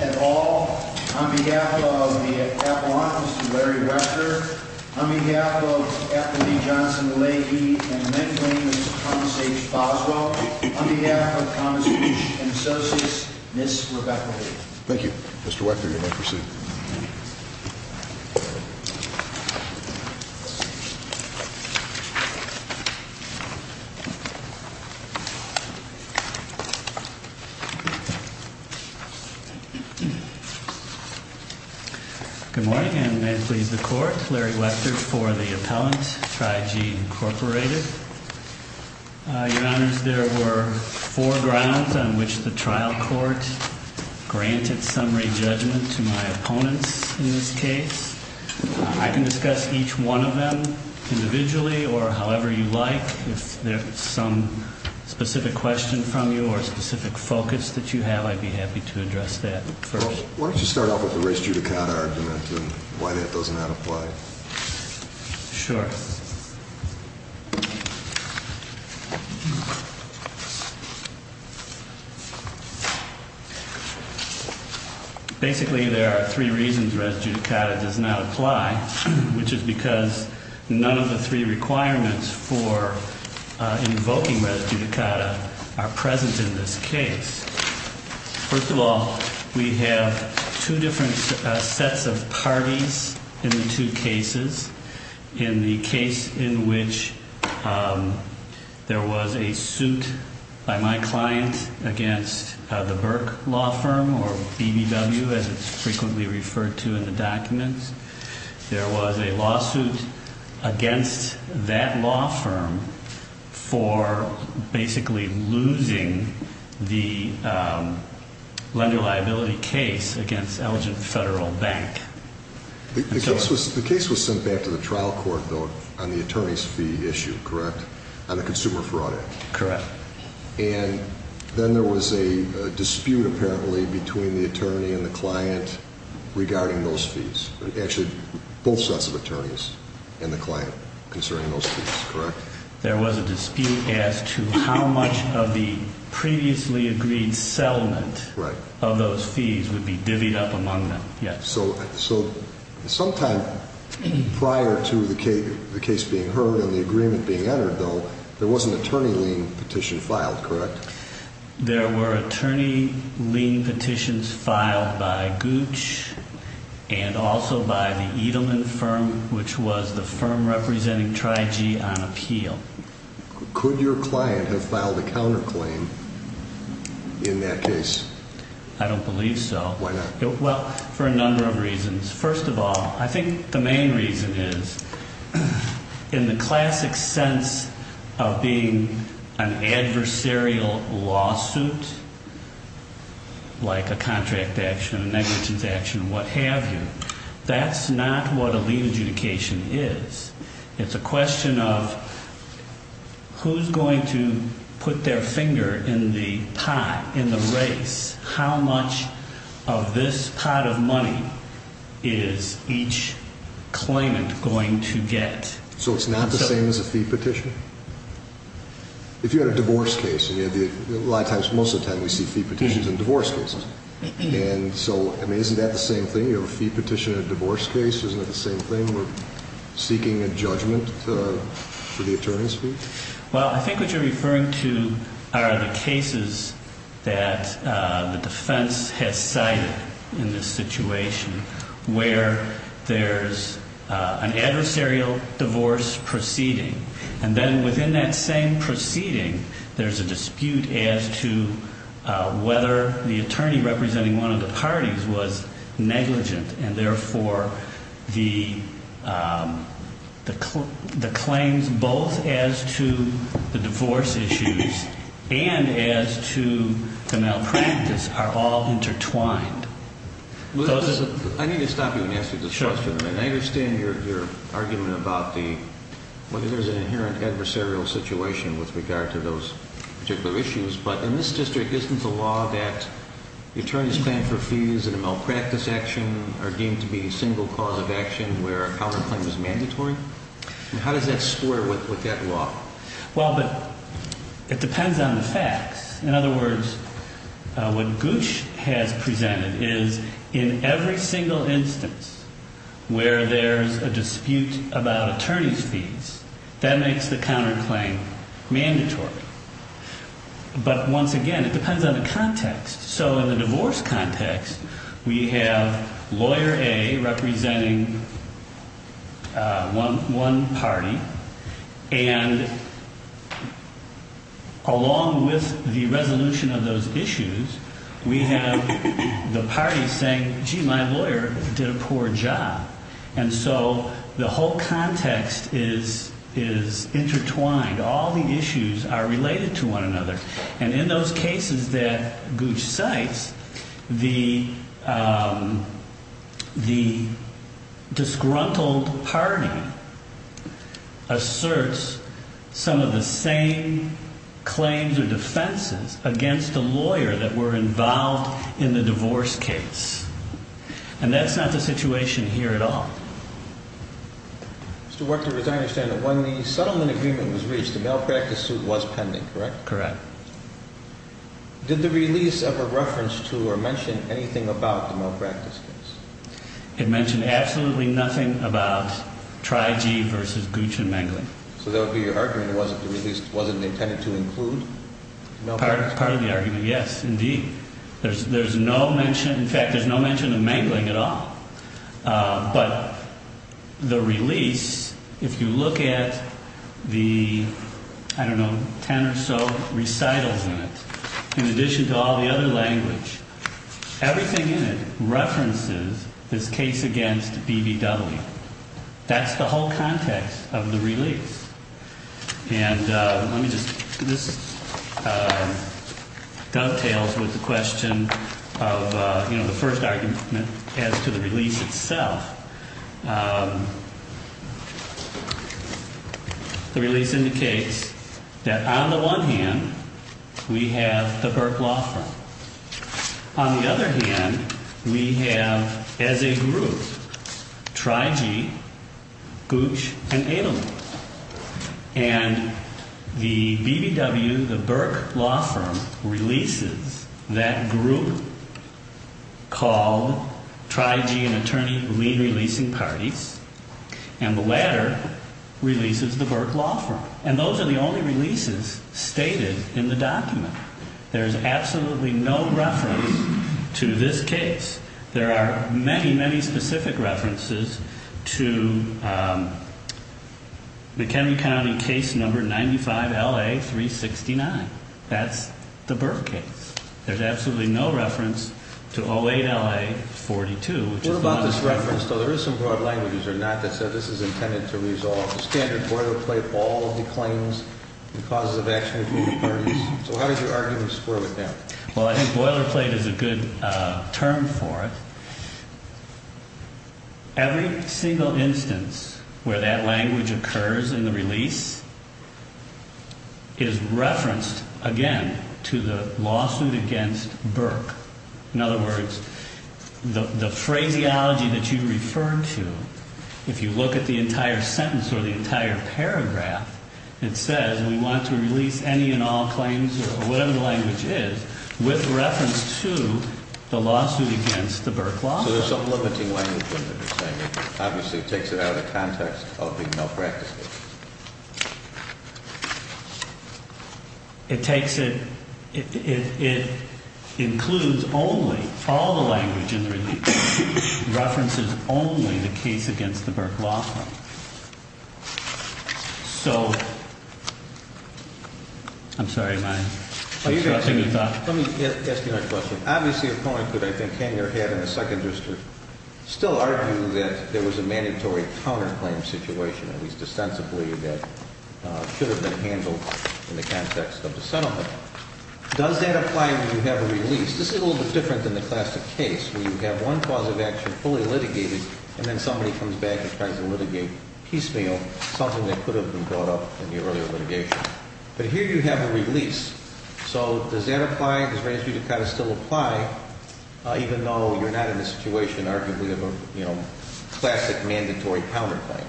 et al. On behalf of the Avalanche, Mr. Larry Wechter. On behalf of Anthony Johnson-Leahy and the Men's Wing, Mr. Thomas H. Boswell. On behalf of Thomas Gooch and Associates, Ms. Rebecca Lee. Thank you. Mr. Wechter, you may proceed. Good morning, and may it please the Court, Larry Wechter for the Appellant, Tri-G, Inc. Your Honors, there were four grounds on which the trial court granted summary judgment to my opponents in this case. I can discuss each one of them individually or however you like. If there's some specific question from you or specific focus that you have, I'd be happy to address that first. Why don't you Basically, there are three reasons res judicata does not apply, which is because none of the three requirements for invoking res judicata are present in this case. First of all, we have two different sets of parties in the two cases. In the case in which there was a suit by my client against the Burke Law Firm, or BBW, as it's frequently referred to in the documents, there was a lawsuit against that law firm for basically losing the lender liability case against Elgin Federal Bank. The case was sent back to the trial court on the attorney's fee issue, correct? On the consumer fraud act. Correct. And then there was a dispute apparently between the attorney and the client regarding those fees. Actually, both sets of attorneys and the client concerning those fees, correct? There was a dispute as to how much of the previously agreed settlement of those fees would be divvied up among them. Yes. So sometime prior to the case being heard and the agreement being entered, though, there was an attorney lien petition filed, correct? There were attorney lien petitions filed by Gooch and also by the Edelman firm, which was the firm representing Tri-G on appeal. Could your client have filed a counterclaim in that case? I don't believe so. Why not? Well, for a number of reasons. First of all, I think the main reason is in the classic sense of being an adversarial lawsuit, like a contract action, a negligence action, what have you, that's not what a lien adjudication is. It's a question of who's going to put their finger in the pot, in the race. How much of this pot of money is each claimant going to get? So it's not the same as a fee petition? If you had a divorce case and you had the, a lot of times, most of the time we see fee petitions in divorce cases. And so, I mean, isn't that the same thing? You have a fee petition in a divorce case, isn't it the same thing? We're seeking a judgment for the attorney's fee? Well, I think what you're referring to are the cases that the defense has cited in this situation where there's an adversarial divorce proceeding. And then within that same proceeding, there's a dispute as to whether the attorney representing one of the parties was negligent and therefore the claims both as to the divorce issues and as to the malpractice are all intertwined. I need to stop you and ask you this question. I understand your argument about the, whether there's an inherent adversarial situation with regard to those particular issues, but in this district, isn't the law that the attorney's plan for fees and a malpractice action are supposed to be a single cause of action where a counterclaim is mandatory? How does that square with that law? Well, but it depends on the facts. In other words, what Gooch has presented is in every single instance where there's a dispute about attorney's fees, that makes the counterclaim mandatory. But once again, it depends on the context. So in the divorce context, we have lawyer A representing one party. And along with the resolution of those issues, we have the parties saying, gee, my lawyer did a poor job. And so the whole context is intertwined. All the issues are related to one another. And in those cases that Gooch cites, the disgruntled party asserts some of the same claims or defenses against the lawyer that were involved in the divorce case. And that's not the situation here at all. Mr. Werchter, as I understand it, when the settlement agreement was reached, the malpractice suit was pending, correct? Correct. Did the release of a reference to or mention anything about the malpractice case? It mentioned absolutely nothing about Trygee versus Gooch and Mangling. So that would be your argument, it wasn't intended to include malpractice? Part of the argument, yes, indeed. There's no mention, in fact, there's no mention of Mangling at all. But the release, if you look at the, I don't know, ten or so recitals in it, in addition to all the other language, everything in it references this case against BVW. That's the whole context of the release. And let me just, this dovetails with the question of, you know, the first argument as to the release itself. The release indicates that on the one hand, we have the Burke Law Firm. On the other hand, we have as a group Trygee, Gooch, and Mangling. And the BVW, the Burke Law Firm, releases that group called Trygee and Attorney lien-releasing parties, and the latter releases the Burke Law Firm. And those are the only releases stated in the document. There's absolutely no reference to this case. There are many, many specific references to McHenry County case number 95LA369. That's the Burke case. There's absolutely no reference to 08LA42. What about this reference, though there is some broad language, is there not, that says this is intended to resolve the standard boilerplate ball of the claims and causes of action between the parties? So how does your argument square with that? Well, I think boilerplate is a good term for it. Every single instance where that language occurs in the release is referenced, again, to the lawsuit against Burke. In other words, the phraseology that you refer to, if you look at the entire sentence or the entire paragraph, it says we want to release any and all claims, or whatever the language is, with reference to the lawsuit against the Burke Law Firm. So there's some limiting language in there that's saying it obviously takes it out of the context of the malpractice case. It takes it, it includes only, all the language in the release, references only the case against the Burke Law Firm. So, I'm sorry, am I disrupting your thought? Let me ask you another question. Obviously a point that I think Hanger had in the second just to still argue that there was a mandatory counterclaim situation, at least ostensibly, that should have been handled in the context of the settlement. Does that apply when you have a release? This is a little bit different than the classic case where you have one cause of action fully litigated, and then somebody comes back and tries to litigate piecemeal, something that could have been brought up in the earlier litigation. But here you have a release. So, does that apply? Does it raise you to kind of still apply, even though you're not in the situation, arguably, of a classic mandatory counterclaim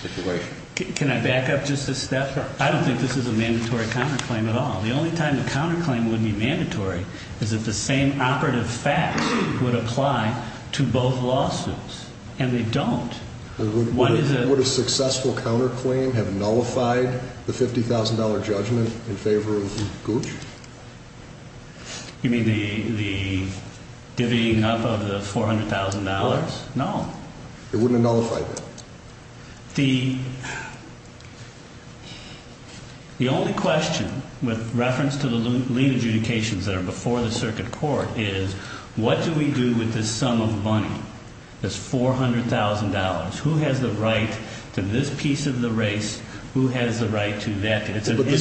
situation? Can I back up just a step? I don't think this is a mandatory counterclaim at all. The only time a counterclaim would be mandatory is if the same operative fact would apply to both lawsuits, and they don't. Would a successful counterclaim have nullified the $50,000 judgment in favor of Gooch? You mean the divvying up of the $400,000? No. It wouldn't have nullified that. The only question, with reference to the lien adjudications that are before the lien, is $400,000. Who has the right to this piece of the race? Who has the right to that? But the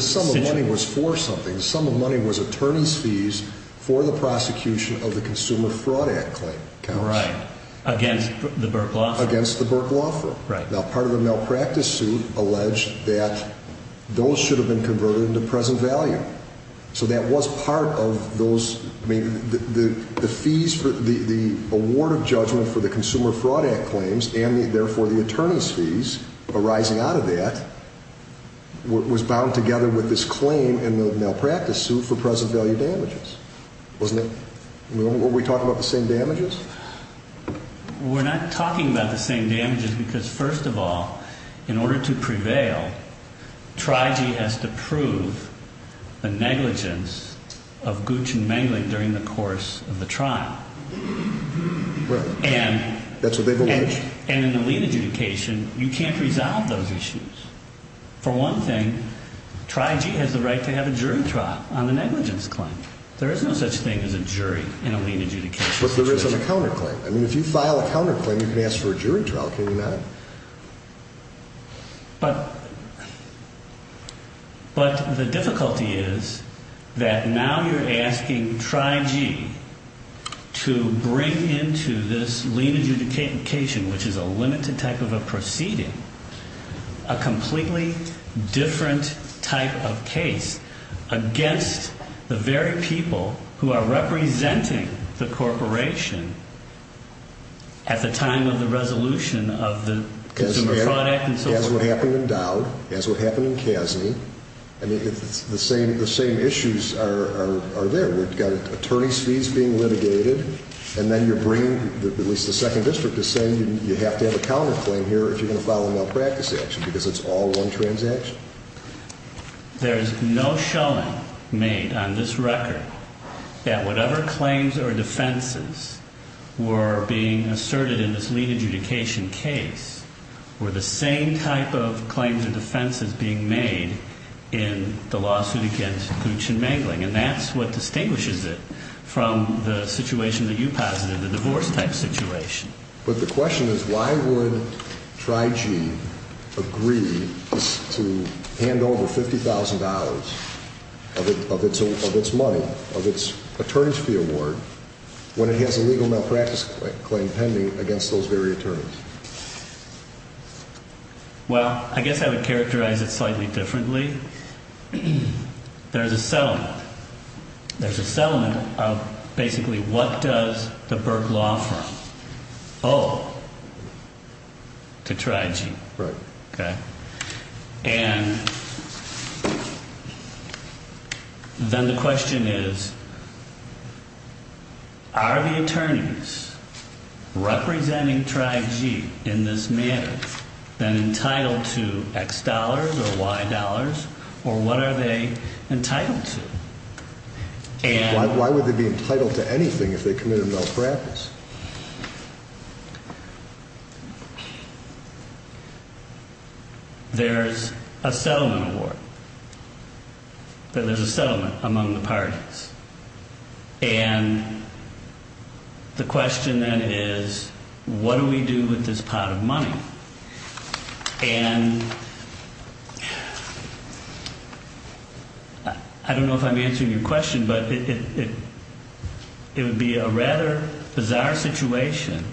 sum of money was for something. The sum of money was attorney's fees for the prosecution of the Consumer Fraud Act claim. Right. Against the Burke Law Firm? Against the Burke Law Firm. Right. Now, part of the malpractice suit alleged that those should have been converted into present value. So that was part of those, I mean, the fees for the award of judgment for the Consumer Fraud Act claims, and therefore the attorney's fees arising out of that, was bound together with this claim in the malpractice suit for present value damages, wasn't it? Were we talking about the same damages? We're not talking about the same damages because first of all, in order to prevail, TRIG has to prove the negligence of Gooch and Mengling during the course of the trial. Right. That's what they've alleged. And in a lien adjudication, you can't resolve those issues. For one thing, TRIG has the right to have a jury trial on the negligence claim. There is no such thing as a jury in a lien adjudication situation. There's a counterclaim. I mean, if you file a counterclaim, you can ask for a jury trial. Can you not? But, but the difficulty is that now you're asking TRIG to bring into this lien adjudication, which is a limited type of a proceeding, a completely different type of case against the very people who are representing the corporation at the time of the resolution of the consumer product and so forth. As what happened in Dowd, as what happened in Casney, and the same issues are there. We've got attorney's fees being litigated, and then you bring, at least the second district is saying you have to have a counterclaim here if you're There is no shelling made on this record that whatever claims or defenses were being asserted in this lien adjudication case were the same type of claims and defenses being made in the lawsuit against Gluch and Mangling. And that's what distinguishes it from the situation that you posited, the divorce type situation. But the question is, why would TRIG agree to hand over $50,000 of its money, of its attorney's fee award, when it has a legal malpractice claim pending against those very attorneys? Well, I guess I would characterize it slightly differently. There's a settlement. There's And then the question is, are the attorneys representing TRIG in this manner then entitled to X dollars or Y dollars, or what are they entitled to? Why would they be entitled to anything if they committed malpractice? There's a settlement award. There's a settlement among the parties. And the question then is, what do we do with this pot of money? And I don't know if I'm answering your question, but it would be a rather bizarre situation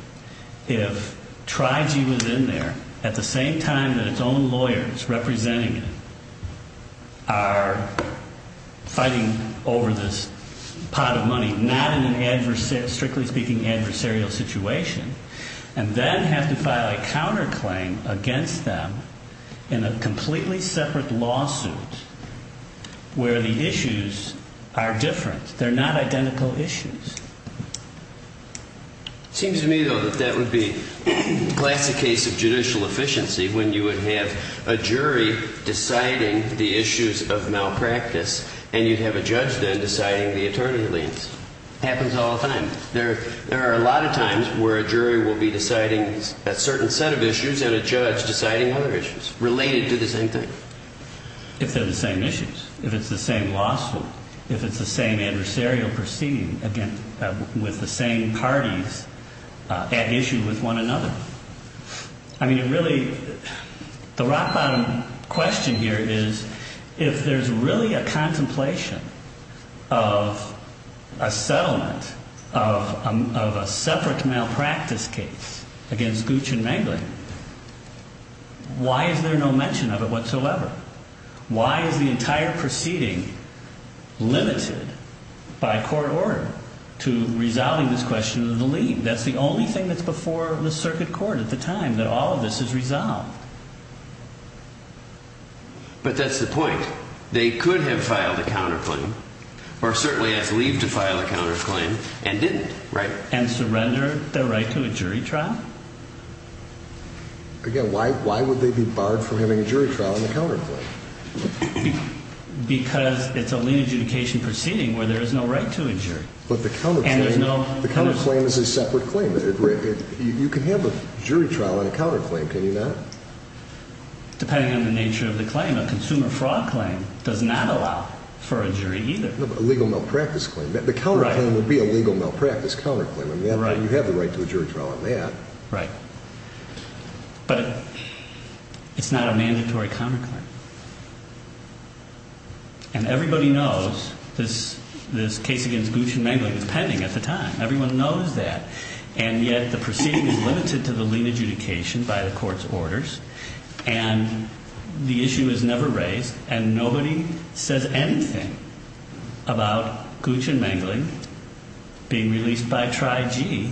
if TRIG was in there at the same time that its own lawyers representing it are fighting over this pot of money, not in an adversary, strictly speaking, adversarial situation, and then have to file a counterclaim against them in a completely separate lawsuit where the issues are different. They're not identical issues. Seems to me, though, that that would be a classic case of judicial efficiency when you would have a jury deciding the issues of malpractice and you'd have a judge then deciding the attorney leads. Happens all the time. There are a lot of times where a jury will be deciding a certain set of issues and a judge deciding other issues related to the same thing. If they're the same issues, if it's the same lawsuit, if it's the same adversarial proceeding with the same parties at issue with one another. I mean, it really, the rock-bottom question here is if there's really a contemplation of a settlement of a separate malpractice case against Gooch and Mengling, why is there no mention of it whatsoever? Why is the entire proceeding limited by court order to resolving this question of the lead? That's the only thing that's before the circuit court at the time that all of this is resolved. But that's the point. They could have filed a counterclaim or certainly have leaved to file a counterclaim and didn't, right? And surrendered their right to a jury trial? Again, why would they be barred from having a jury trial and a counterclaim? Because it's a lien adjudication proceeding where there is no right to a jury. But the counterclaim is a separate claim. You can have a jury trial and a counterclaim, can you not? Depending on the nature of the claim. A consumer fraud claim does not allow for a jury either. A legal malpractice claim. The counterclaim would be a legal malpractice counterclaim. You have the right to a jury trial on that. Right. But it's not a mandatory counterclaim. And everybody knows this case against Gooch and Mengling was pending at the time. Everyone knows that. And yet the proceeding is limited to the lien adjudication by the court's orders. And the issue is never raised. And nobody says anything about Gooch and Mengling being released by TRI-G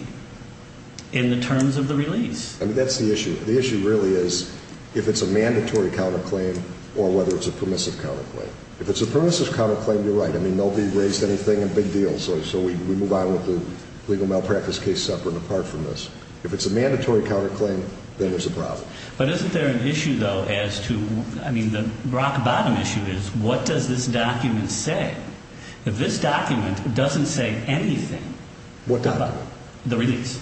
in the terms of the release. I mean, that's the issue. The issue really is if it's a mandatory counterclaim or whether it's a permissive counterclaim. If it's a permissive counterclaim, you're right. I mean, nobody raised anything, a big deal. So we move on with the legal malpractice case separate and apart from this. If it's a mandatory counterclaim, then there's a problem. But isn't there an issue, though, as to, I mean, the rock-bottom issue is, what does this document say? If this document doesn't say anything, how about the release?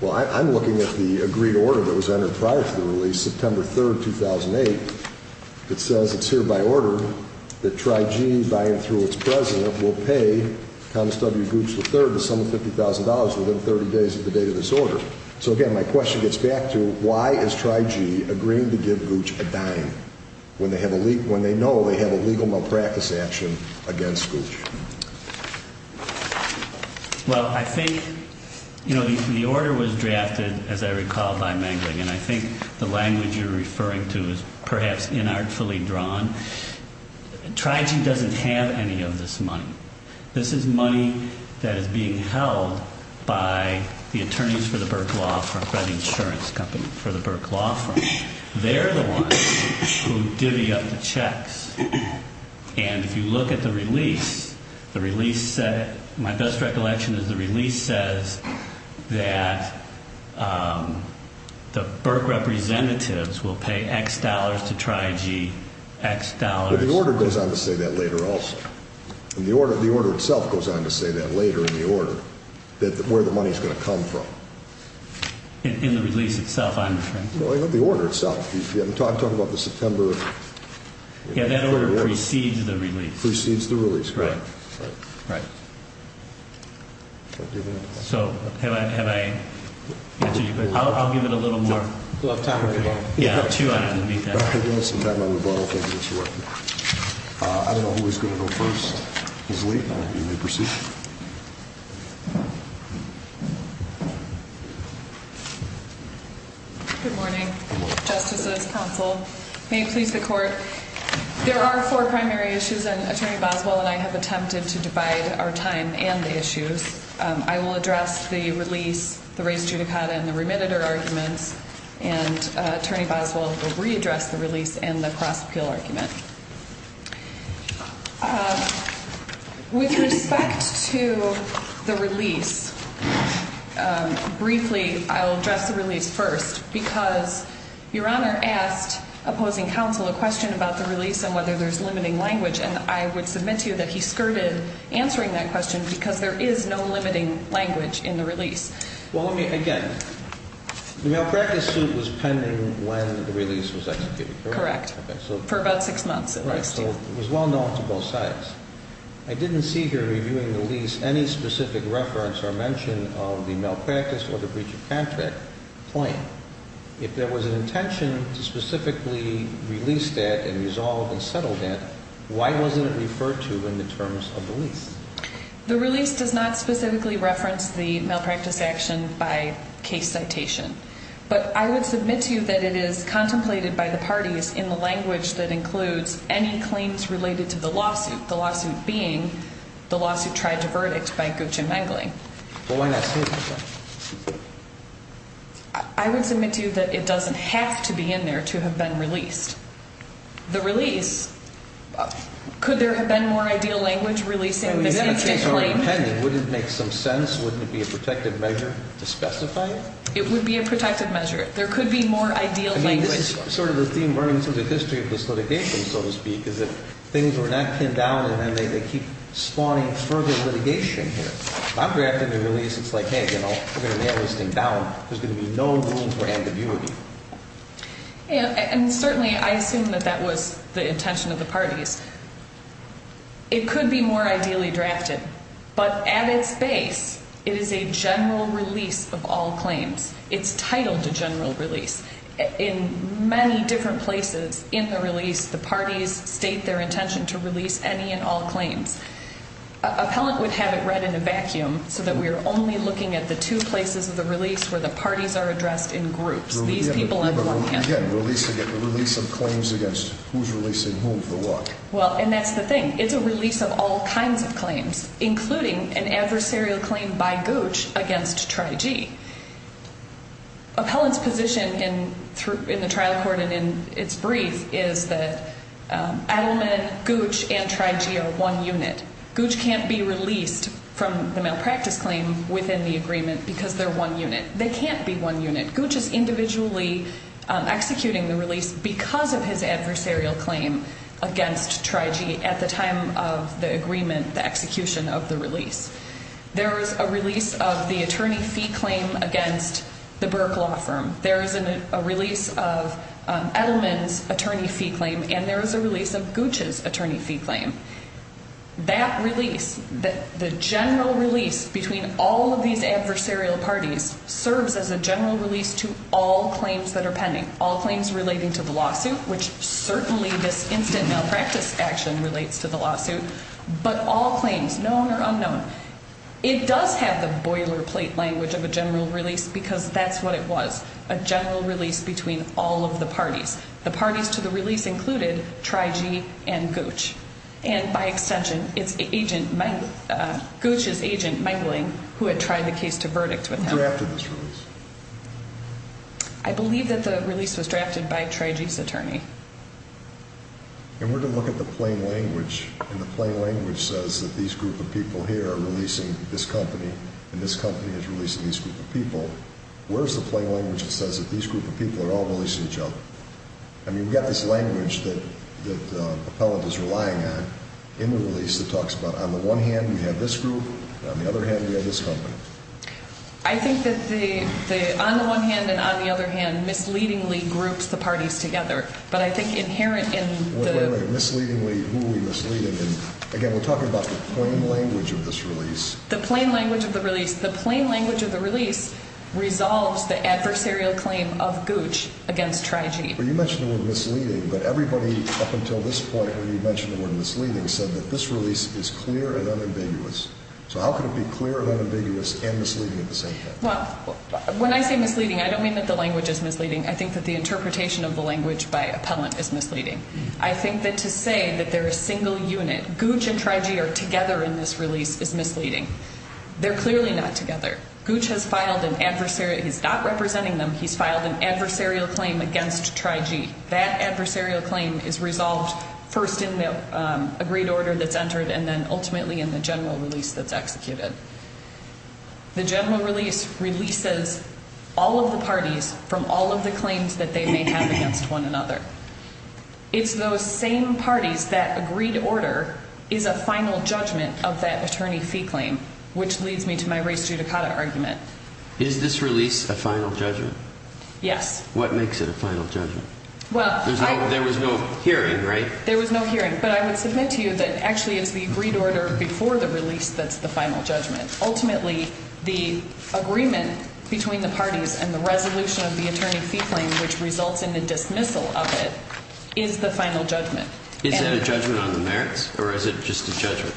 Well, I'm looking at the agreed order that was entered prior to the release, September 3rd, 2008. It says it's hereby ordered that TRI-G, by and through its president, will pay Thomas W. Gooch III the sum of $50,000 within 30 days of the date of this order. So, again, my question gets back to why is TRI-G agreeing to give Gooch a dime when they know they have a legal malpractice action against Gooch? Well, I think, you know, the order was drafted, as I recall, by Mengling, and I think the language you're referring to is perhaps inartfully drawn. TRI-G doesn't have any of this money. This is money that is being held by the attorneys for the Burke Law Firm, by the insurance company for the Burke And if you look at the release, my best recollection is the release says that the Burke representatives will pay X dollars to TRI-G, X dollars... But the order goes on to say that later also. The order itself goes on to say that later in the order, where the money's going to come from. In the release itself, I'm afraid. No, the order itself. You haven't talked about the September... Yeah, that order precedes the release. Precedes the release. Right. Right. So, have I answered your question? I'll give it a little more... We'll have time for that. Yeah, I'll chew on it in the meantime. I don't know who's going to go first. Who's late? You may proceed. Good morning, justices, counsel. May it please the court. There are four primary issues, and Attorney Boswell and I have attempted to divide our time and the issues. I will address the release, the res judicata, and the remitted arguments. And Attorney Boswell will readdress the release and the cross-appeal argument. With respect to the release, briefly, I'll address the release first, because Your Honor asked opposing counsel a question about the release and whether there's limiting language, and I would submit to you that he skirted answering that question because there is no limiting language in the release. Well, let me, again, the malpractice suit was pending when the release was executed, correct? Correct. Okay, so... It was well known to both sides. I didn't see here reviewing the lease any specific reference or mention of the malpractice or the breach of contract claim. If there was an intention to specifically release that and resolve and settle that, why wasn't it referred to in the terms of the lease? The release does not specifically reference the malpractice action by case citation, but I would submit to you that it is contemplated by the parties in the language that includes any claims related to the lawsuit, the lawsuit being the lawsuit tried to verdict by Gooch and Mengling. Well, why not say that? I would submit to you that it doesn't have to be in there to have been released. The release, could there have been more ideal language releasing this instant claim? If it were pending, wouldn't it make some sense, wouldn't it be a protective measure to specify it? It would be a protective measure. There could be more ideal language. I mean, this is sort of the theme running through the history of this litigation, so to speak, is that things were not pinned down and then they keep spawning further litigation here. If I'm drafting a release, it's like, hey, you know, we're going to nail this thing down. There's going to be no room for ambiguity. And certainly, I assume that that was the intention of the parties. It could be more ideally drafted. But at its base, it is a general release of all claims. It's titled a general release. In many different places in the release, the parties state their intention to release any and all claims. Appellant would have it read in a vacuum so that we are only looking at the two places of the release where the parties are addressed in groups. Again, the release of claims against who's releasing whom for what. Well, and that's the thing. It's a release of all kinds of claims, including an adversarial claim by Gooch against TRI-G. Appellant's position in the trial court and in its brief is that Adleman, Gooch, and TRI-G are one unit. Gooch can't be released from the malpractice claim within the agreement because they're one unit. They can't be one unit. Gooch is individually executing the release because of his adversarial claim against TRI-G at the time of the agreement, the execution of the release. There is a release of the attorney fee claim against the Burke Law Firm. There is a release of Adleman's attorney fee claim, and there is a release of Gooch's attorney fee claim. That release, the general release between all of these adversarial parties, serves as a general release to all claims that are pending, all claims relating to the lawsuit, which certainly this instant malpractice action relates to the lawsuit, but all claims, known or unknown. It does have the boilerplate language of a general release because that's what it was, a general release between all of the parties. The parties to the release included TRI-G and Gooch, and by extension, it's Gooch's agent, Meingling, who had tried the case to verdict with him. Who drafted this release? I believe that the release was drafted by TRI-G's attorney. And we're going to look at the plain language, and the plain language says that these group of people here are releasing this company, and this company is releasing these group of people. Where is the plain language that says that these group of people are all releasing each other? I mean, we've got this language that Appellant is relying on in the release that talks about, on the one hand, we have this group, and on the other hand, we have this company. I think that the, on the one hand and on the other hand, misleadingly groups the parties together, but I think inherent in the... Wait, wait, wait, misleadingly, who are we misleading? Again, we're talking about the plain language of this release. The plain language of the release. The plain language of the release resolves the adversarial claim of Gooch against TRI-G. Well, you mentioned the word misleading, but everybody up until this point, when you mentioned the word misleading, said that this release is clear and unambiguous. So how could it be clear and unambiguous and misleading at the same time? Well, when I say misleading, I don't mean that the language is misleading. I think that the interpretation of the language by Appellant is misleading. I think that to say that they're a single unit, Gooch and TRI-G are together in this release, is misleading. They're clearly not together. Gooch has filed an adversarial, he's not representing them, he's filed an adversarial claim against TRI-G. That adversarial claim is resolved first in the agreed order that's entered and then ultimately in the general release that's executed. The general release releases all of the parties from all of the claims that they may have against one another. It's those same parties that agreed order is a final judgment of that attorney fee claim, which leads me to my race judicata argument. Is this release a final judgment? Yes. What makes it a final judgment? There was no hearing, right? There was no hearing, but I would submit to you that actually it's the agreed order before the release that's the final judgment. Ultimately, the agreement between the parties and the resolution of the attorney fee claim, which results in the dismissal of it, is the final judgment. Is that a judgment on the merits or is it just a judgment?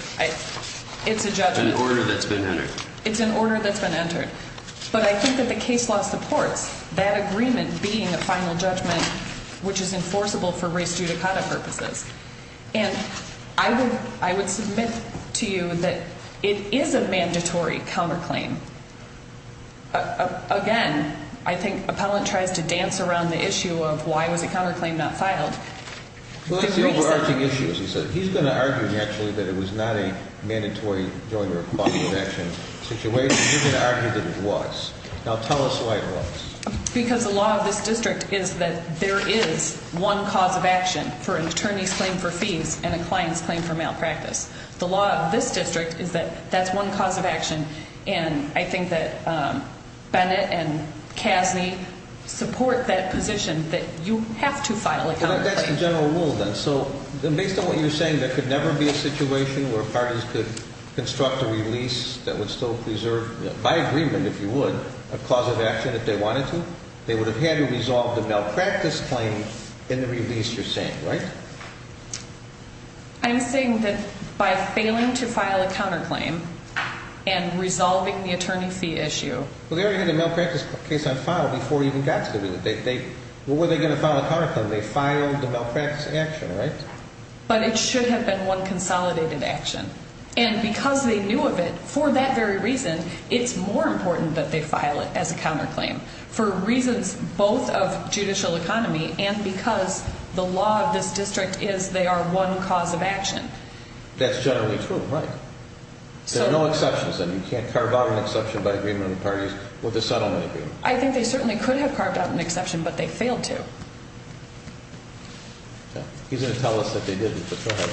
It's a judgment. An order that's been entered. It's an order that's been entered. But I think that the case law supports that agreement being a final judgment, which is enforceable for race judicata purposes. And I would submit to you that it is a mandatory counterclaim. Again, I think Appellant tries to dance around the issue of why was a counterclaim not filed. Well, it's the overarching issue, as you said. He's going to argue, naturally, that it was not a mandatory joint or a cause of action situation. He's going to argue that it was. Now, tell us why it was. Because the law of this district is that there is one cause of action for an attorney's claim for fees and a client's claim for malpractice. The law of this district is that that's one cause of action, and I think that Bennett and Casney support that position that you have to file a counterclaim. That's the general rule, then. So based on what you're saying, there could never be a situation where parties could construct a release that would still preserve, by agreement, if you would, a cause of action if they wanted to. They would have had to resolve the malpractice claim in the release you're saying, right? I'm saying that by failing to file a counterclaim and resolving the attorney fee issue. Well, they already had a malpractice case on file before it even got to the release. What were they going to file a counterclaim? They filed the malpractice action, right? But it should have been one consolidated action. And because they knew of it, for that very reason, it's more important that they file it as a counterclaim for reasons both of judicial economy and because the law of this district is they are one cause of action. That's generally true, right? There are no exceptions, then. You can't carve out an exception by agreement with parties with a settlement agreement. I think they certainly could have carved out an exception, but they failed to. He's going to tell us that they didn't, but go ahead.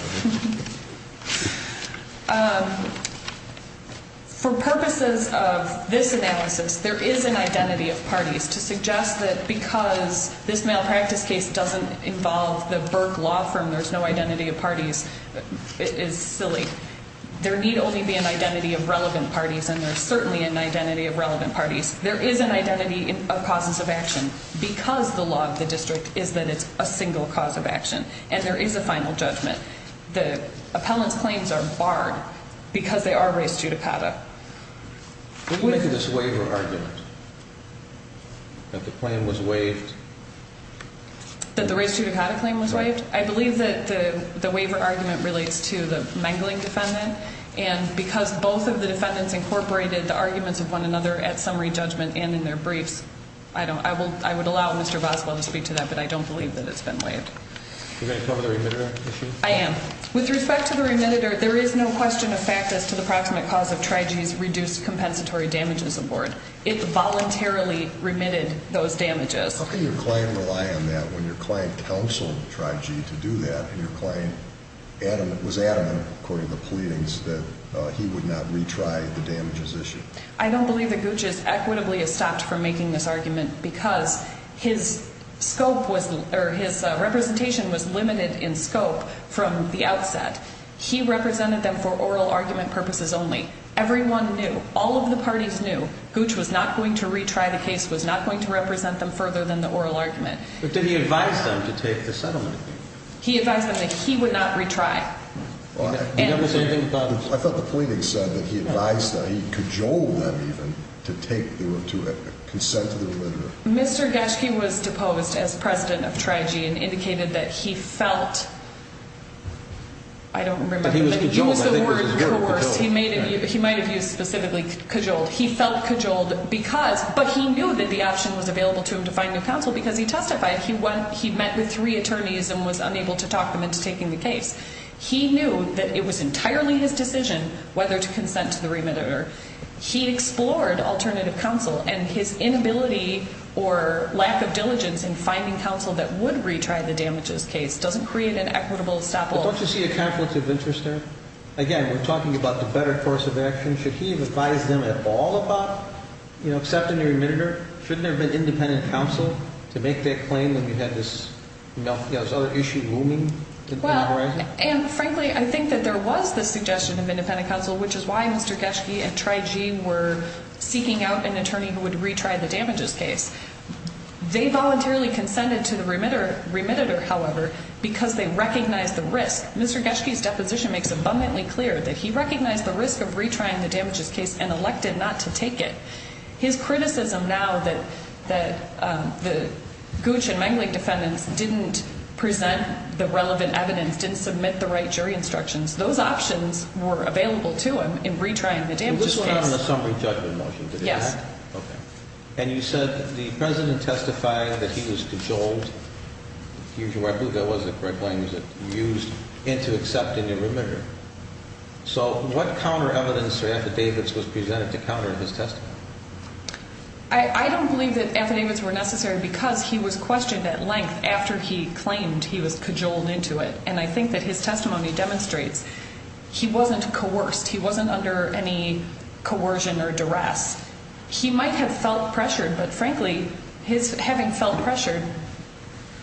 For purposes of this analysis, there is an identity of parties. To suggest that because this malpractice case doesn't involve the Burke Law Firm, there's no identity of parties is silly. There need only be an identity of relevant parties, and there's certainly an identity of relevant parties. There is an identity of causes of action because the law of the district is that it's a single cause of action, and there is a final judgment. The appellant's claims are barred because they are res judicata. But what is this waiver argument, that the claim was waived? That the res judicata claim was waived? I believe that the waiver argument relates to the mangling defendant, and because both of the defendants incorporated the arguments of one another at summary judgment and in their briefs, I would allow Mr. Boswell to speak to that, but I don't believe that it's been waived. Are you going to cover the remitter issue? I am. With respect to the remitter, there is no question of fact as to the proximate cause of TRI-G's reduced compensatory damages aboard. It voluntarily remitted those damages. How can your client rely on that when your client counseled TRI-G to do that, and your client was adamant, according to the pleadings, that he would not retry the damages issue? I don't believe that Gooch is equitably estopped from making this argument because his representation was limited in scope from the outset. He represented them for oral argument purposes only. Everyone knew. All of the parties knew. Gooch was not going to retry the case, was not going to represent them further than the oral argument. But did he advise them to take the settlement? He advised them that he would not retry. I thought the pleadings said that he advised them, he cajoled them even, to consent to the remitter. Mr. Geschke was deposed as president of TRI-G and indicated that he felt, I don't remember. He was cajoled. He was the word coerced. He might have used specifically cajoled. He felt cajoled because, but he knew that the option was available to him to find new counsel because he testified. He met with three attorneys and was unable to talk them into taking the case. He knew that it was entirely his decision whether to consent to the remitter. He explored alternative counsel, and his inability or lack of diligence in finding counsel that would retry the damages case doesn't create an equitable stop-all. But don't you see a conflict of interest there? Again, we're talking about the better course of action. Should he have advised them at all about accepting the remitter? Shouldn't there have been independent counsel to make that claim that we had this other issue looming? Frankly, I think that there was the suggestion of independent counsel, which is why Mr. Geschke and TRI-G were seeking out an attorney who would retry the damages case. They voluntarily consented to the remitter, however, because they recognized the risk. Mr. Geschke's deposition makes abundantly clear that he recognized the risk of retrying the damages case and elected not to take it. His criticism now that the Gooch and Mengelich defendants didn't present the relevant evidence, didn't submit the right jury instructions, those options were available to him in retrying the damages case. It was found in the summary judgment motion, is that correct? Yes. Okay. And you said the President testified that he was cajoled, I believe that was the correct language, used into accepting the remitter. So what counter evidence for Anthony Davids was presented to counter his testimony? I don't believe that Anthony Davids was necessary because he was questioned at length after he claimed he was cajoled into it. And I think that his testimony demonstrates he wasn't coerced, he wasn't under any coercion or duress. He might have felt pressured, but frankly, his having felt pressured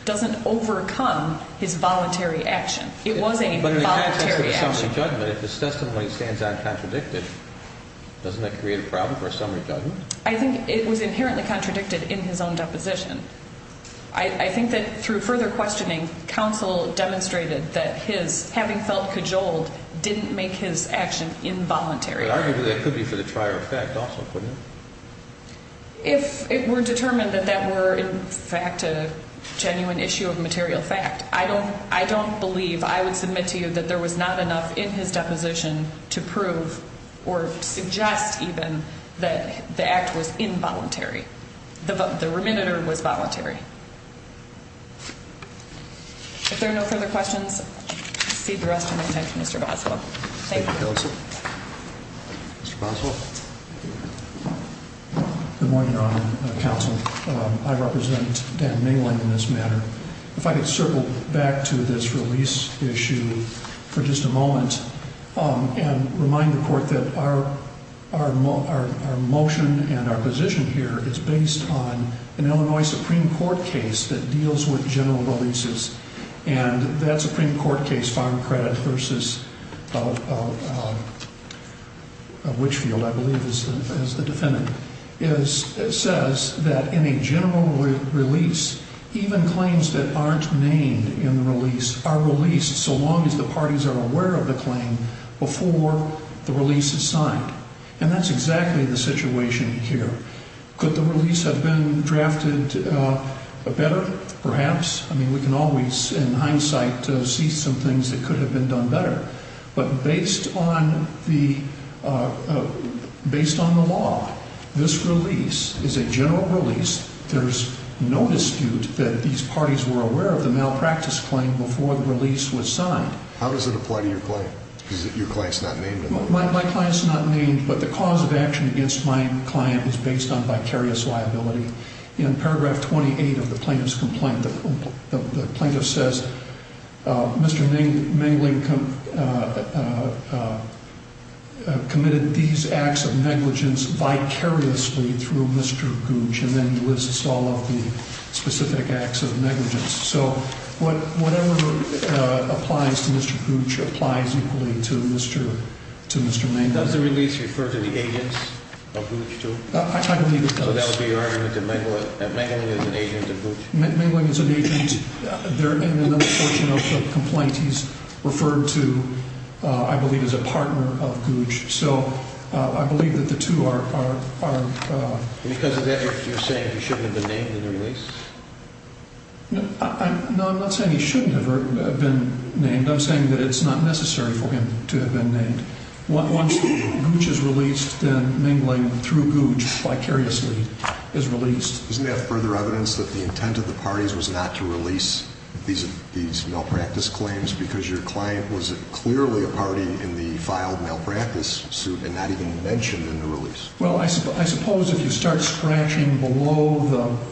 doesn't overcome his voluntary action. It was a voluntary action. But in the context of a summary judgment, if his testimony stands uncontradicted, doesn't that create a problem for a summary judgment? I think it was inherently contradicted in his own deposition. I think that through further questioning, counsel demonstrated that his having felt cajoled didn't make his action involuntary. But arguably that could be for the trier of fact also, couldn't it? If it were determined that that were in fact a genuine issue of material fact, I don't believe, I would submit to you that there was not enough in his deposition to prove or suggest even that the act was involuntary. The remitter was voluntary. If there are no further questions, I'll cede the rest of my time to Mr. Boswell. Thank you, counsel. Mr. Boswell? Good morning, Your Honor and counsel. I represent Dan Maling in this matter. If I could circle back to this release issue for just a moment and remind the court that our motion and our position here is based on an Illinois Supreme Court case that deals with general releases. And that Supreme Court case, Farm Credit v. Witchfield, I believe is the defendant. It says that in a general release, even claims that aren't named in the release are released so long as the parties are aware of the claim before the release is signed. And that's exactly the situation here. Could the release have been drafted better, perhaps? I mean, we can always, in hindsight, see some things that could have been done better. But based on the law, this release is a general release. There's no dispute that these parties were aware of the malpractice claim before the release was signed. How does it apply to your claim? Because your claim's not named in the release. My claim's not named, but the cause of action against my client is based on vicarious liability. In paragraph 28 of the plaintiff's complaint, the plaintiff says, Mr. Mingling committed these acts of negligence vicariously through Mr. Gooch and then lists all of the specific acts of negligence. So whatever applies to Mr. Gooch applies equally to Mr. Mingling. Does the release refer to the agents of Gooch, too? I believe it does. So that would be your argument that Mingling is an agent of Gooch? Mingling is an agent. In another portion of the complaint, he's referred to, I believe, as a partner of Gooch. So I believe that the two are – Because of that, you're saying he shouldn't have been named in the release? No, I'm not saying he shouldn't have been named. I'm saying that it's not necessary for him to have been named. Once Gooch is released, then Mingling, through Gooch, vicariously is released. Doesn't that have further evidence that the intent of the parties was not to release these malpractice claims because your client was clearly a party in the filed malpractice suit and not even mentioned in the release? Well, I suppose if you start scratching below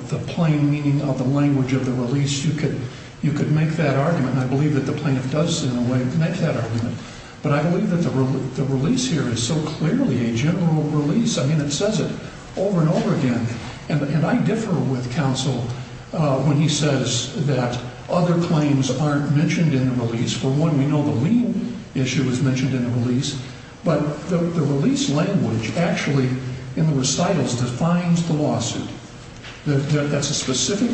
the plain meaning of the language of the release, you could make that argument. I believe that the plaintiff does, in a way, make that argument. But I believe that the release here is so clearly a general release. I mean, it says it over and over again. And I differ with counsel when he says that other claims aren't mentioned in the release. For one, we know the Lee issue is mentioned in the release. But the release language actually, in the recitals, defines the lawsuit. That's a specific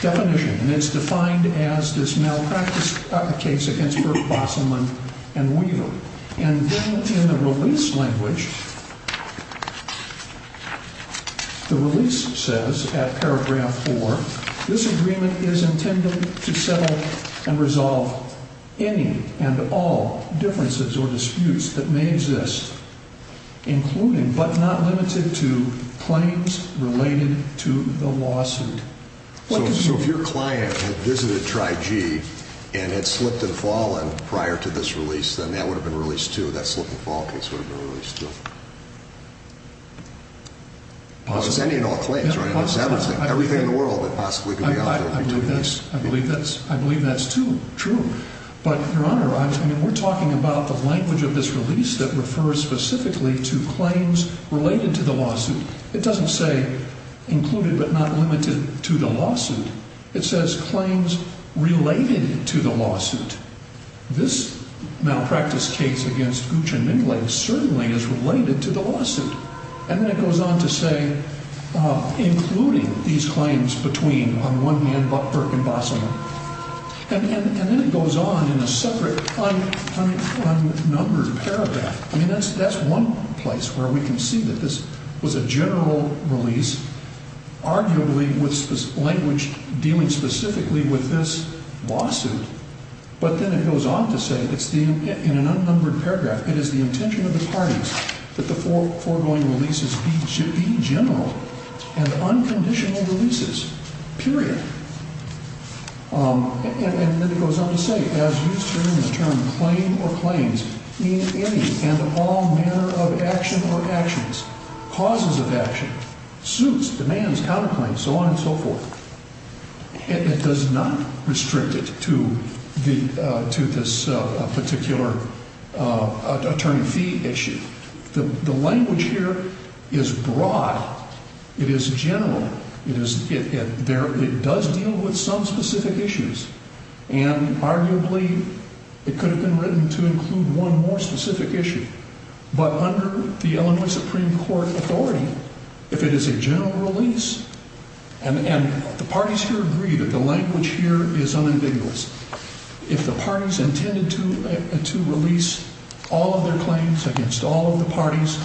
definition. And it's defined as this malpractice case against Burke, Bosselman, and Weaver. And then in the release language, the release says at paragraph 4, this agreement is intended to settle and resolve any and all differences or disputes that may exist, including but not limited to claims related to the lawsuit. So if your client had visited TRI-G and had slipped and fallen prior to this release, then that would have been released, too. That slip and fall case would have been released, too. Well, it's any and all claims, right? It's everything. Everything in the world that possibly could be offered. I believe that's true. But, Your Honor, I mean, we're talking about the language of this release that refers specifically to claims related to the lawsuit. It doesn't say included but not limited to the lawsuit. It says claims related to the lawsuit. This malpractice case against Guccianigle certainly is related to the lawsuit. And then it goes on to say including these claims between, on one hand, Burke and Bosselman. And then it goes on in a separate unnumbered paragraph. I mean, that's one place where we can see that this was a general release, arguably with language dealing specifically with this lawsuit. But then it goes on to say in an unnumbered paragraph, it is the intention of the parties that the foregoing releases be general and unconditional releases, period. And then it goes on to say, as used during the term claim or claims, in any and all manner of action or actions, causes of action, suits, demands, counterclaims, so on and so forth. It does not restrict it to this particular attorney fee issue. The language here is broad. It is general. It does deal with some specific issues. And arguably, it could have been written to include one more specific issue. But under the Illinois Supreme Court authority, if it is a general release, and the parties here agree that the language here is unambiguous, if the parties intended to release all of their claims against all of the parties,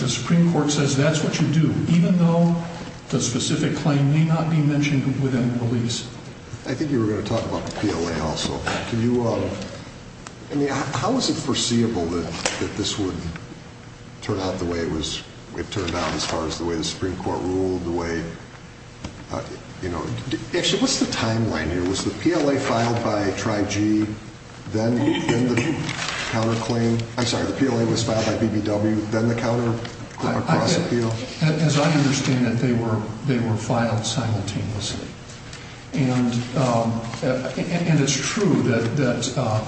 the Supreme Court says that's what you do, even though the specific claim may not be mentioned within the release. I think you were going to talk about the PLA also. Can you, I mean, how is it foreseeable that this would turn out the way it was, it turned out as far as the way the Supreme Court ruled, the way, you know. Actually, what's the timeline here? Was the PLA filed by TRI-G, then the counterclaim? I'm sorry, the PLA was filed by BBW, then the counterclaim? As I understand it, they were filed simultaneously. And it's true that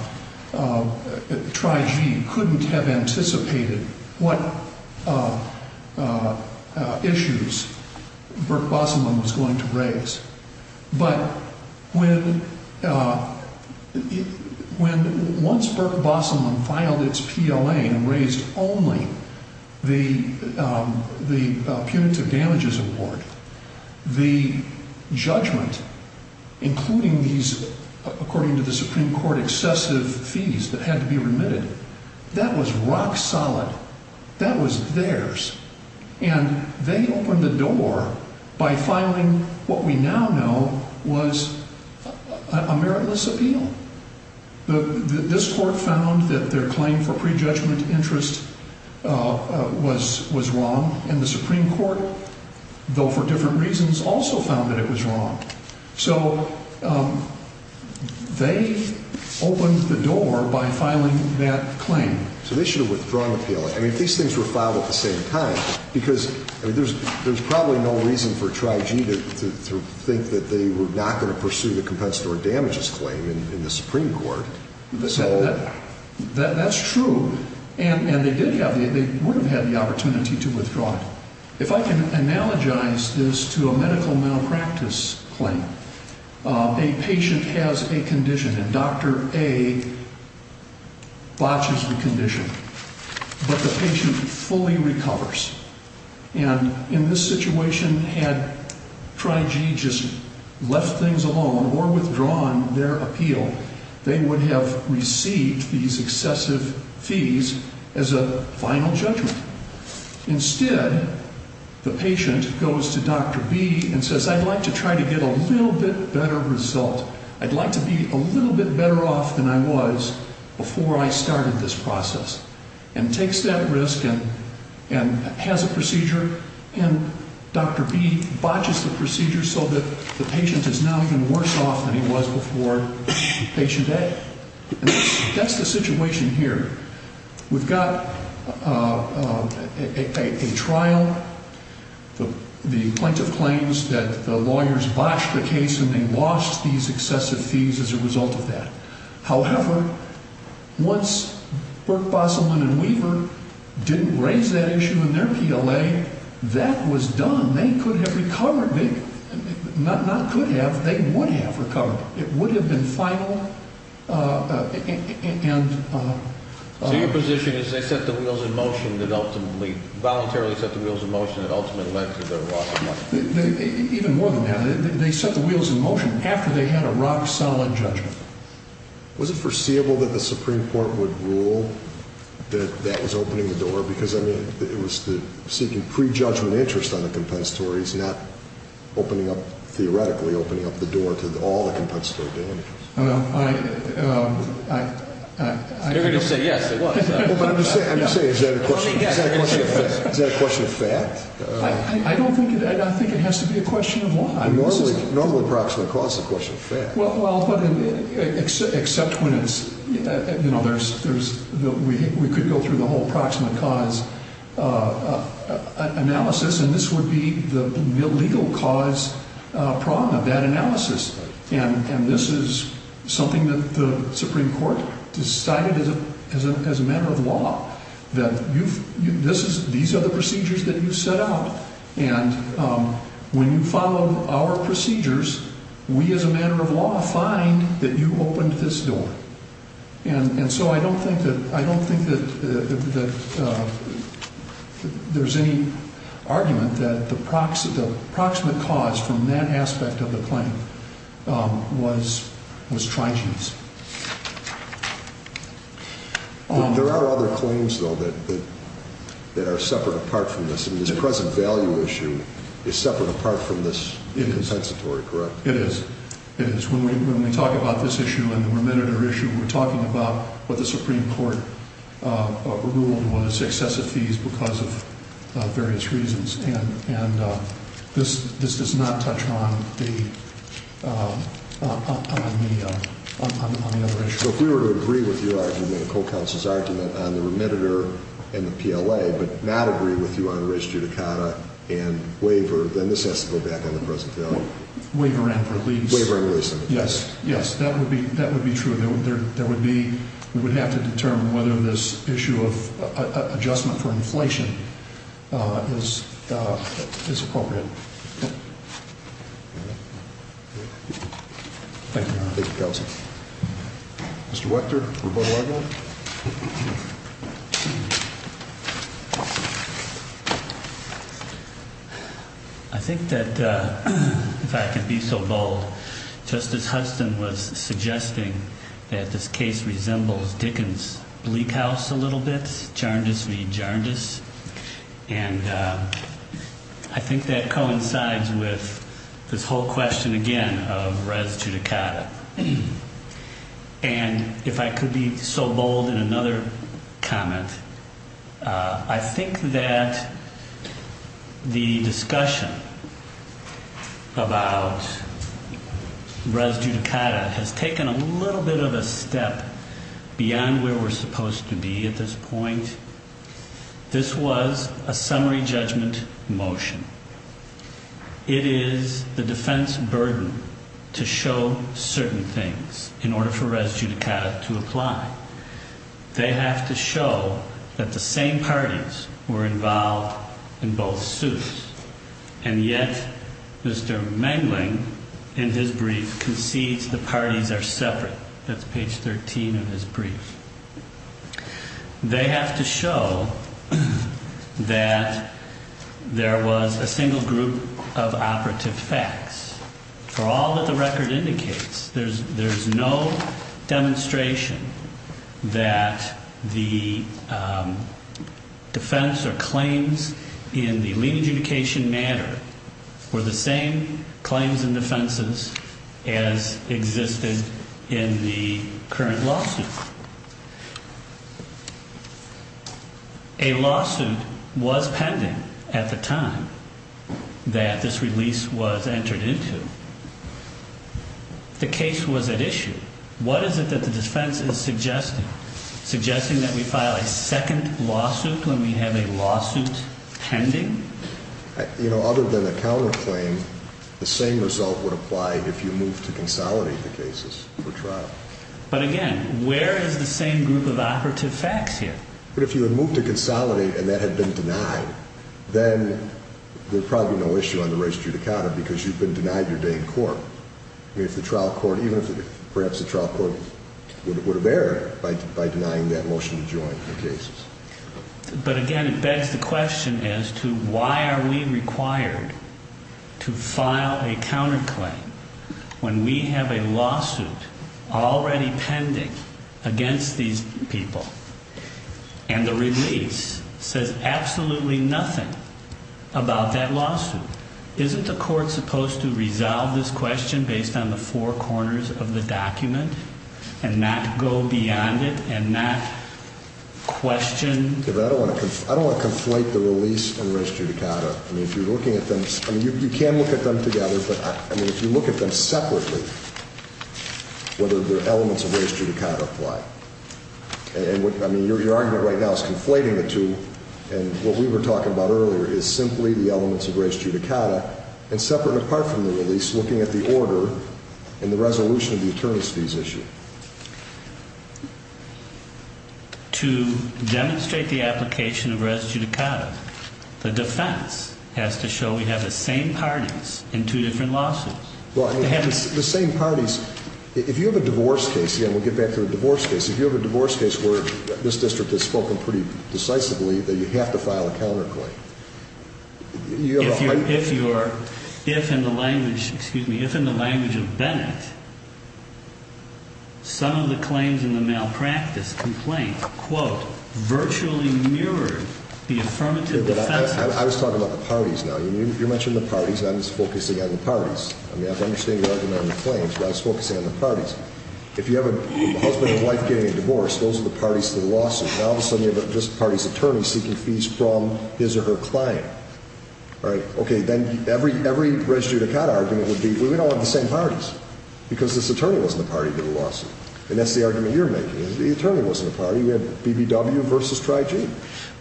TRI-G couldn't have anticipated what issues Burke Bosselman was going to raise. But when, once Burke Bosselman filed its PLA and raised only the punitive damages award, the judgment, including these, according to the Supreme Court, excessive fees that had to be remitted, that was rock solid. That was theirs. And they opened the door by filing what we now know was a meritless appeal. This court found that their claim for prejudgment interest was wrong, and the Supreme Court, though for different reasons, also found that it was wrong. So they opened the door by filing that claim. So they should have withdrawn the PLA. I mean, if these things were filed at the same time, because, I mean, there's probably no reason for TRI-G to think that they were not going to pursue the compensatory damages claim in the Supreme Court. That's true. And they would have had the opportunity to withdraw it. If I can analogize this to a medical malpractice claim. A patient has a condition, and Dr. A botches the condition. But the patient fully recovers. And in this situation, had TRI-G just left things alone or withdrawn their appeal, they would have received these excessive fees as a final judgment. Instead, the patient goes to Dr. B and says, I'd like to try to get a little bit better result. I'd like to be a little bit better off than I was before I started this process. And takes that risk and has a procedure. And Dr. B botches the procedure so that the patient is now even worse off than he was before patient A. And that's the situation here. We've got a trial. The plaintiff claims that the lawyers botched the case, and they lost these excessive fees as a result of that. However, once Burke, Bosselman, and Weaver didn't raise that issue in their PLA, that was done. They could have recovered. Not could have. They would have recovered. It would have been final. So your position is they set the wheels in motion that ultimately, voluntarily set the wheels in motion that ultimately led to their loss of money? Even more than that. They set the wheels in motion after they had a rock-solid judgment. Was it foreseeable that the Supreme Court would rule that that was opening the door? Because, I mean, it was seeking pre-judgment interest on the compensatory. It's not theoretically opening up the door to all the compensatory damages. Everybody will say, yes, it was. But I'm just saying, is that a question of fact? I don't think it is. I think it has to be a question of why. Normally, approximate cause is a question of fact. Well, but except when it's, you know, there's, we could go through the whole approximate cause analysis, and this would be the legal cause problem of that analysis. And this is something that the Supreme Court decided as a matter of law, that these are the procedures that you set out, and when you follow our procedures, we as a matter of law find that you opened this door. And so I don't think that there's any argument that the approximate cause from that aspect of the claim was trying to use. There are other claims, though, that are separate apart from this. I mean, this present value issue is separate apart from this compensatory, correct? It is. It is. When we talk about this issue and the remediator issue, we're talking about what the Supreme Court ruled was excessive fees because of various reasons. And this does not touch on the other issues. So if we were to agree with your argument and the co-counsel's argument on the remediator and the PLA, but not agree with you on res judicata and waiver, then this has to go back on the present value? Waiver and release. Waiver and release. Yes. Yes. That would be true. We would have to determine whether this issue of adjustment for inflation is appropriate. Thank you, counsel. Mr. Wechter, rebuttal argument? I think that if I can be so bold, Justice Hudson was suggesting that this case resembles Dickens' Bleak House a little bit, Jardis v. Jardis. And I think that coincides with this whole question again of res judicata. And if I could be so bold in another comment, I think that the discussion about res judicata has taken a little bit of a step beyond where we're supposed to be at this point. This was a summary judgment motion. It is the defense burden to show certain things in order for res judicata to apply. They have to show that the same parties were involved in both suits, and yet Mr. Mengling, in his brief, concedes the parties are separate. That's page 13 of his brief. They have to show that there was a single group of operative facts. For all that the record indicates, there's no demonstration that the defense or claims in the lien adjudication matter were the same claims and defenses as existed in the current lawsuit. A lawsuit was pending at the time that this release was entered into. The case was at issue. What is it that the defense is suggesting? Suggesting that we file a second lawsuit when we have a lawsuit pending? You know, other than a counterclaim, the same result would apply if you moved to consolidate the cases for trial. But again, where is the same group of operative facts here? But if you had moved to consolidate and that had been denied, then there's probably no issue on the res judicata because you've been denied your day in court. I mean, if the trial court, even if perhaps the trial court would have erred by denying that motion to join the cases. But again, it begs the question as to why are we required to file a counterclaim when we have a lawsuit already pending against these people and the release says absolutely nothing about that lawsuit? Isn't the court supposed to resolve this question based on the four corners of the document and not go beyond it and not question? I don't want to conflate the release and res judicata. I mean, if you're looking at them, you can look at them together. But I mean, if you look at them separately, whether they're elements of res judicata apply. And I mean, your argument right now is conflating the two. And what we were talking about earlier is simply the elements of res judicata and separate apart from the release, looking at the order and the resolution of the attorneys fees issue. To demonstrate the application of res judicata, the defense has to show we have the same parties in two different lawsuits. Well, the same parties. If you have a divorce case, and we'll get back to a divorce case. If you have a divorce case where this district has spoken pretty decisively that you have to file a counterclaim. If in the language of Bennett, some of the claims in the malpractice complaint, quote, virtually mirrored the affirmative defense. I was talking about the parties now. You mentioned the parties, and I was focusing on the parties. I mean, I understand your argument on the claims, but I was focusing on the parties. If you have a husband and wife getting a divorce, those are the parties to the lawsuit. Now, all of a sudden, you have this party's attorney seeking fees from his or her client. All right. Okay. Then every res judicata argument would be, well, we don't have the same parties because this attorney wasn't a party to the lawsuit. And that's the argument you're making. The attorney wasn't a party. We had BBW versus Tri-G.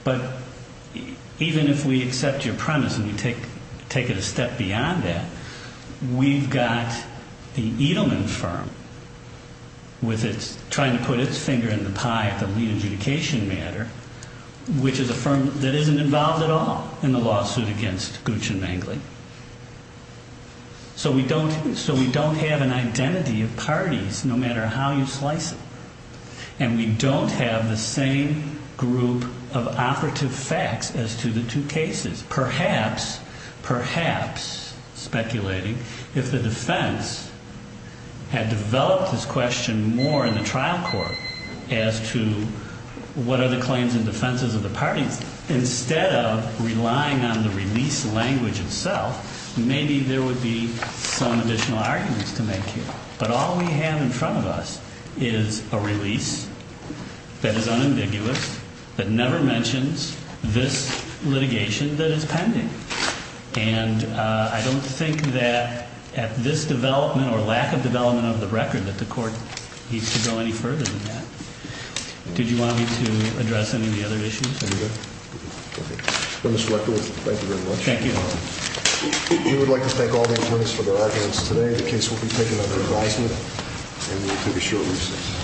But even if we accept your premise and we take it a step beyond that, we've got the Edelman firm trying to put its finger in the pie at the re-adjudication matter, which is a firm that isn't involved at all in the lawsuit against Gooch and Mangley. So we don't have an identity of parties, no matter how you slice it. And we don't have the same group of operative facts as to the two cases. Perhaps, perhaps, speculating, if the defense had developed this question more in the trial court as to what are the claims and defenses of the parties, instead of relying on the release language itself, maybe there would be some additional arguments to make here. But all we have in front of us is a release that is unambiguous, that never mentions this litigation that is pending. And I don't think that at this development or lack of development of the record that the court needs to go any further than that. Did you want me to address any of the other issues? No. Okay. Well, Mr. Rector, thank you very much. Thank you. We would like to thank all the attorneys for their arguments today. The case will be taken under advisement and we will take a short recess.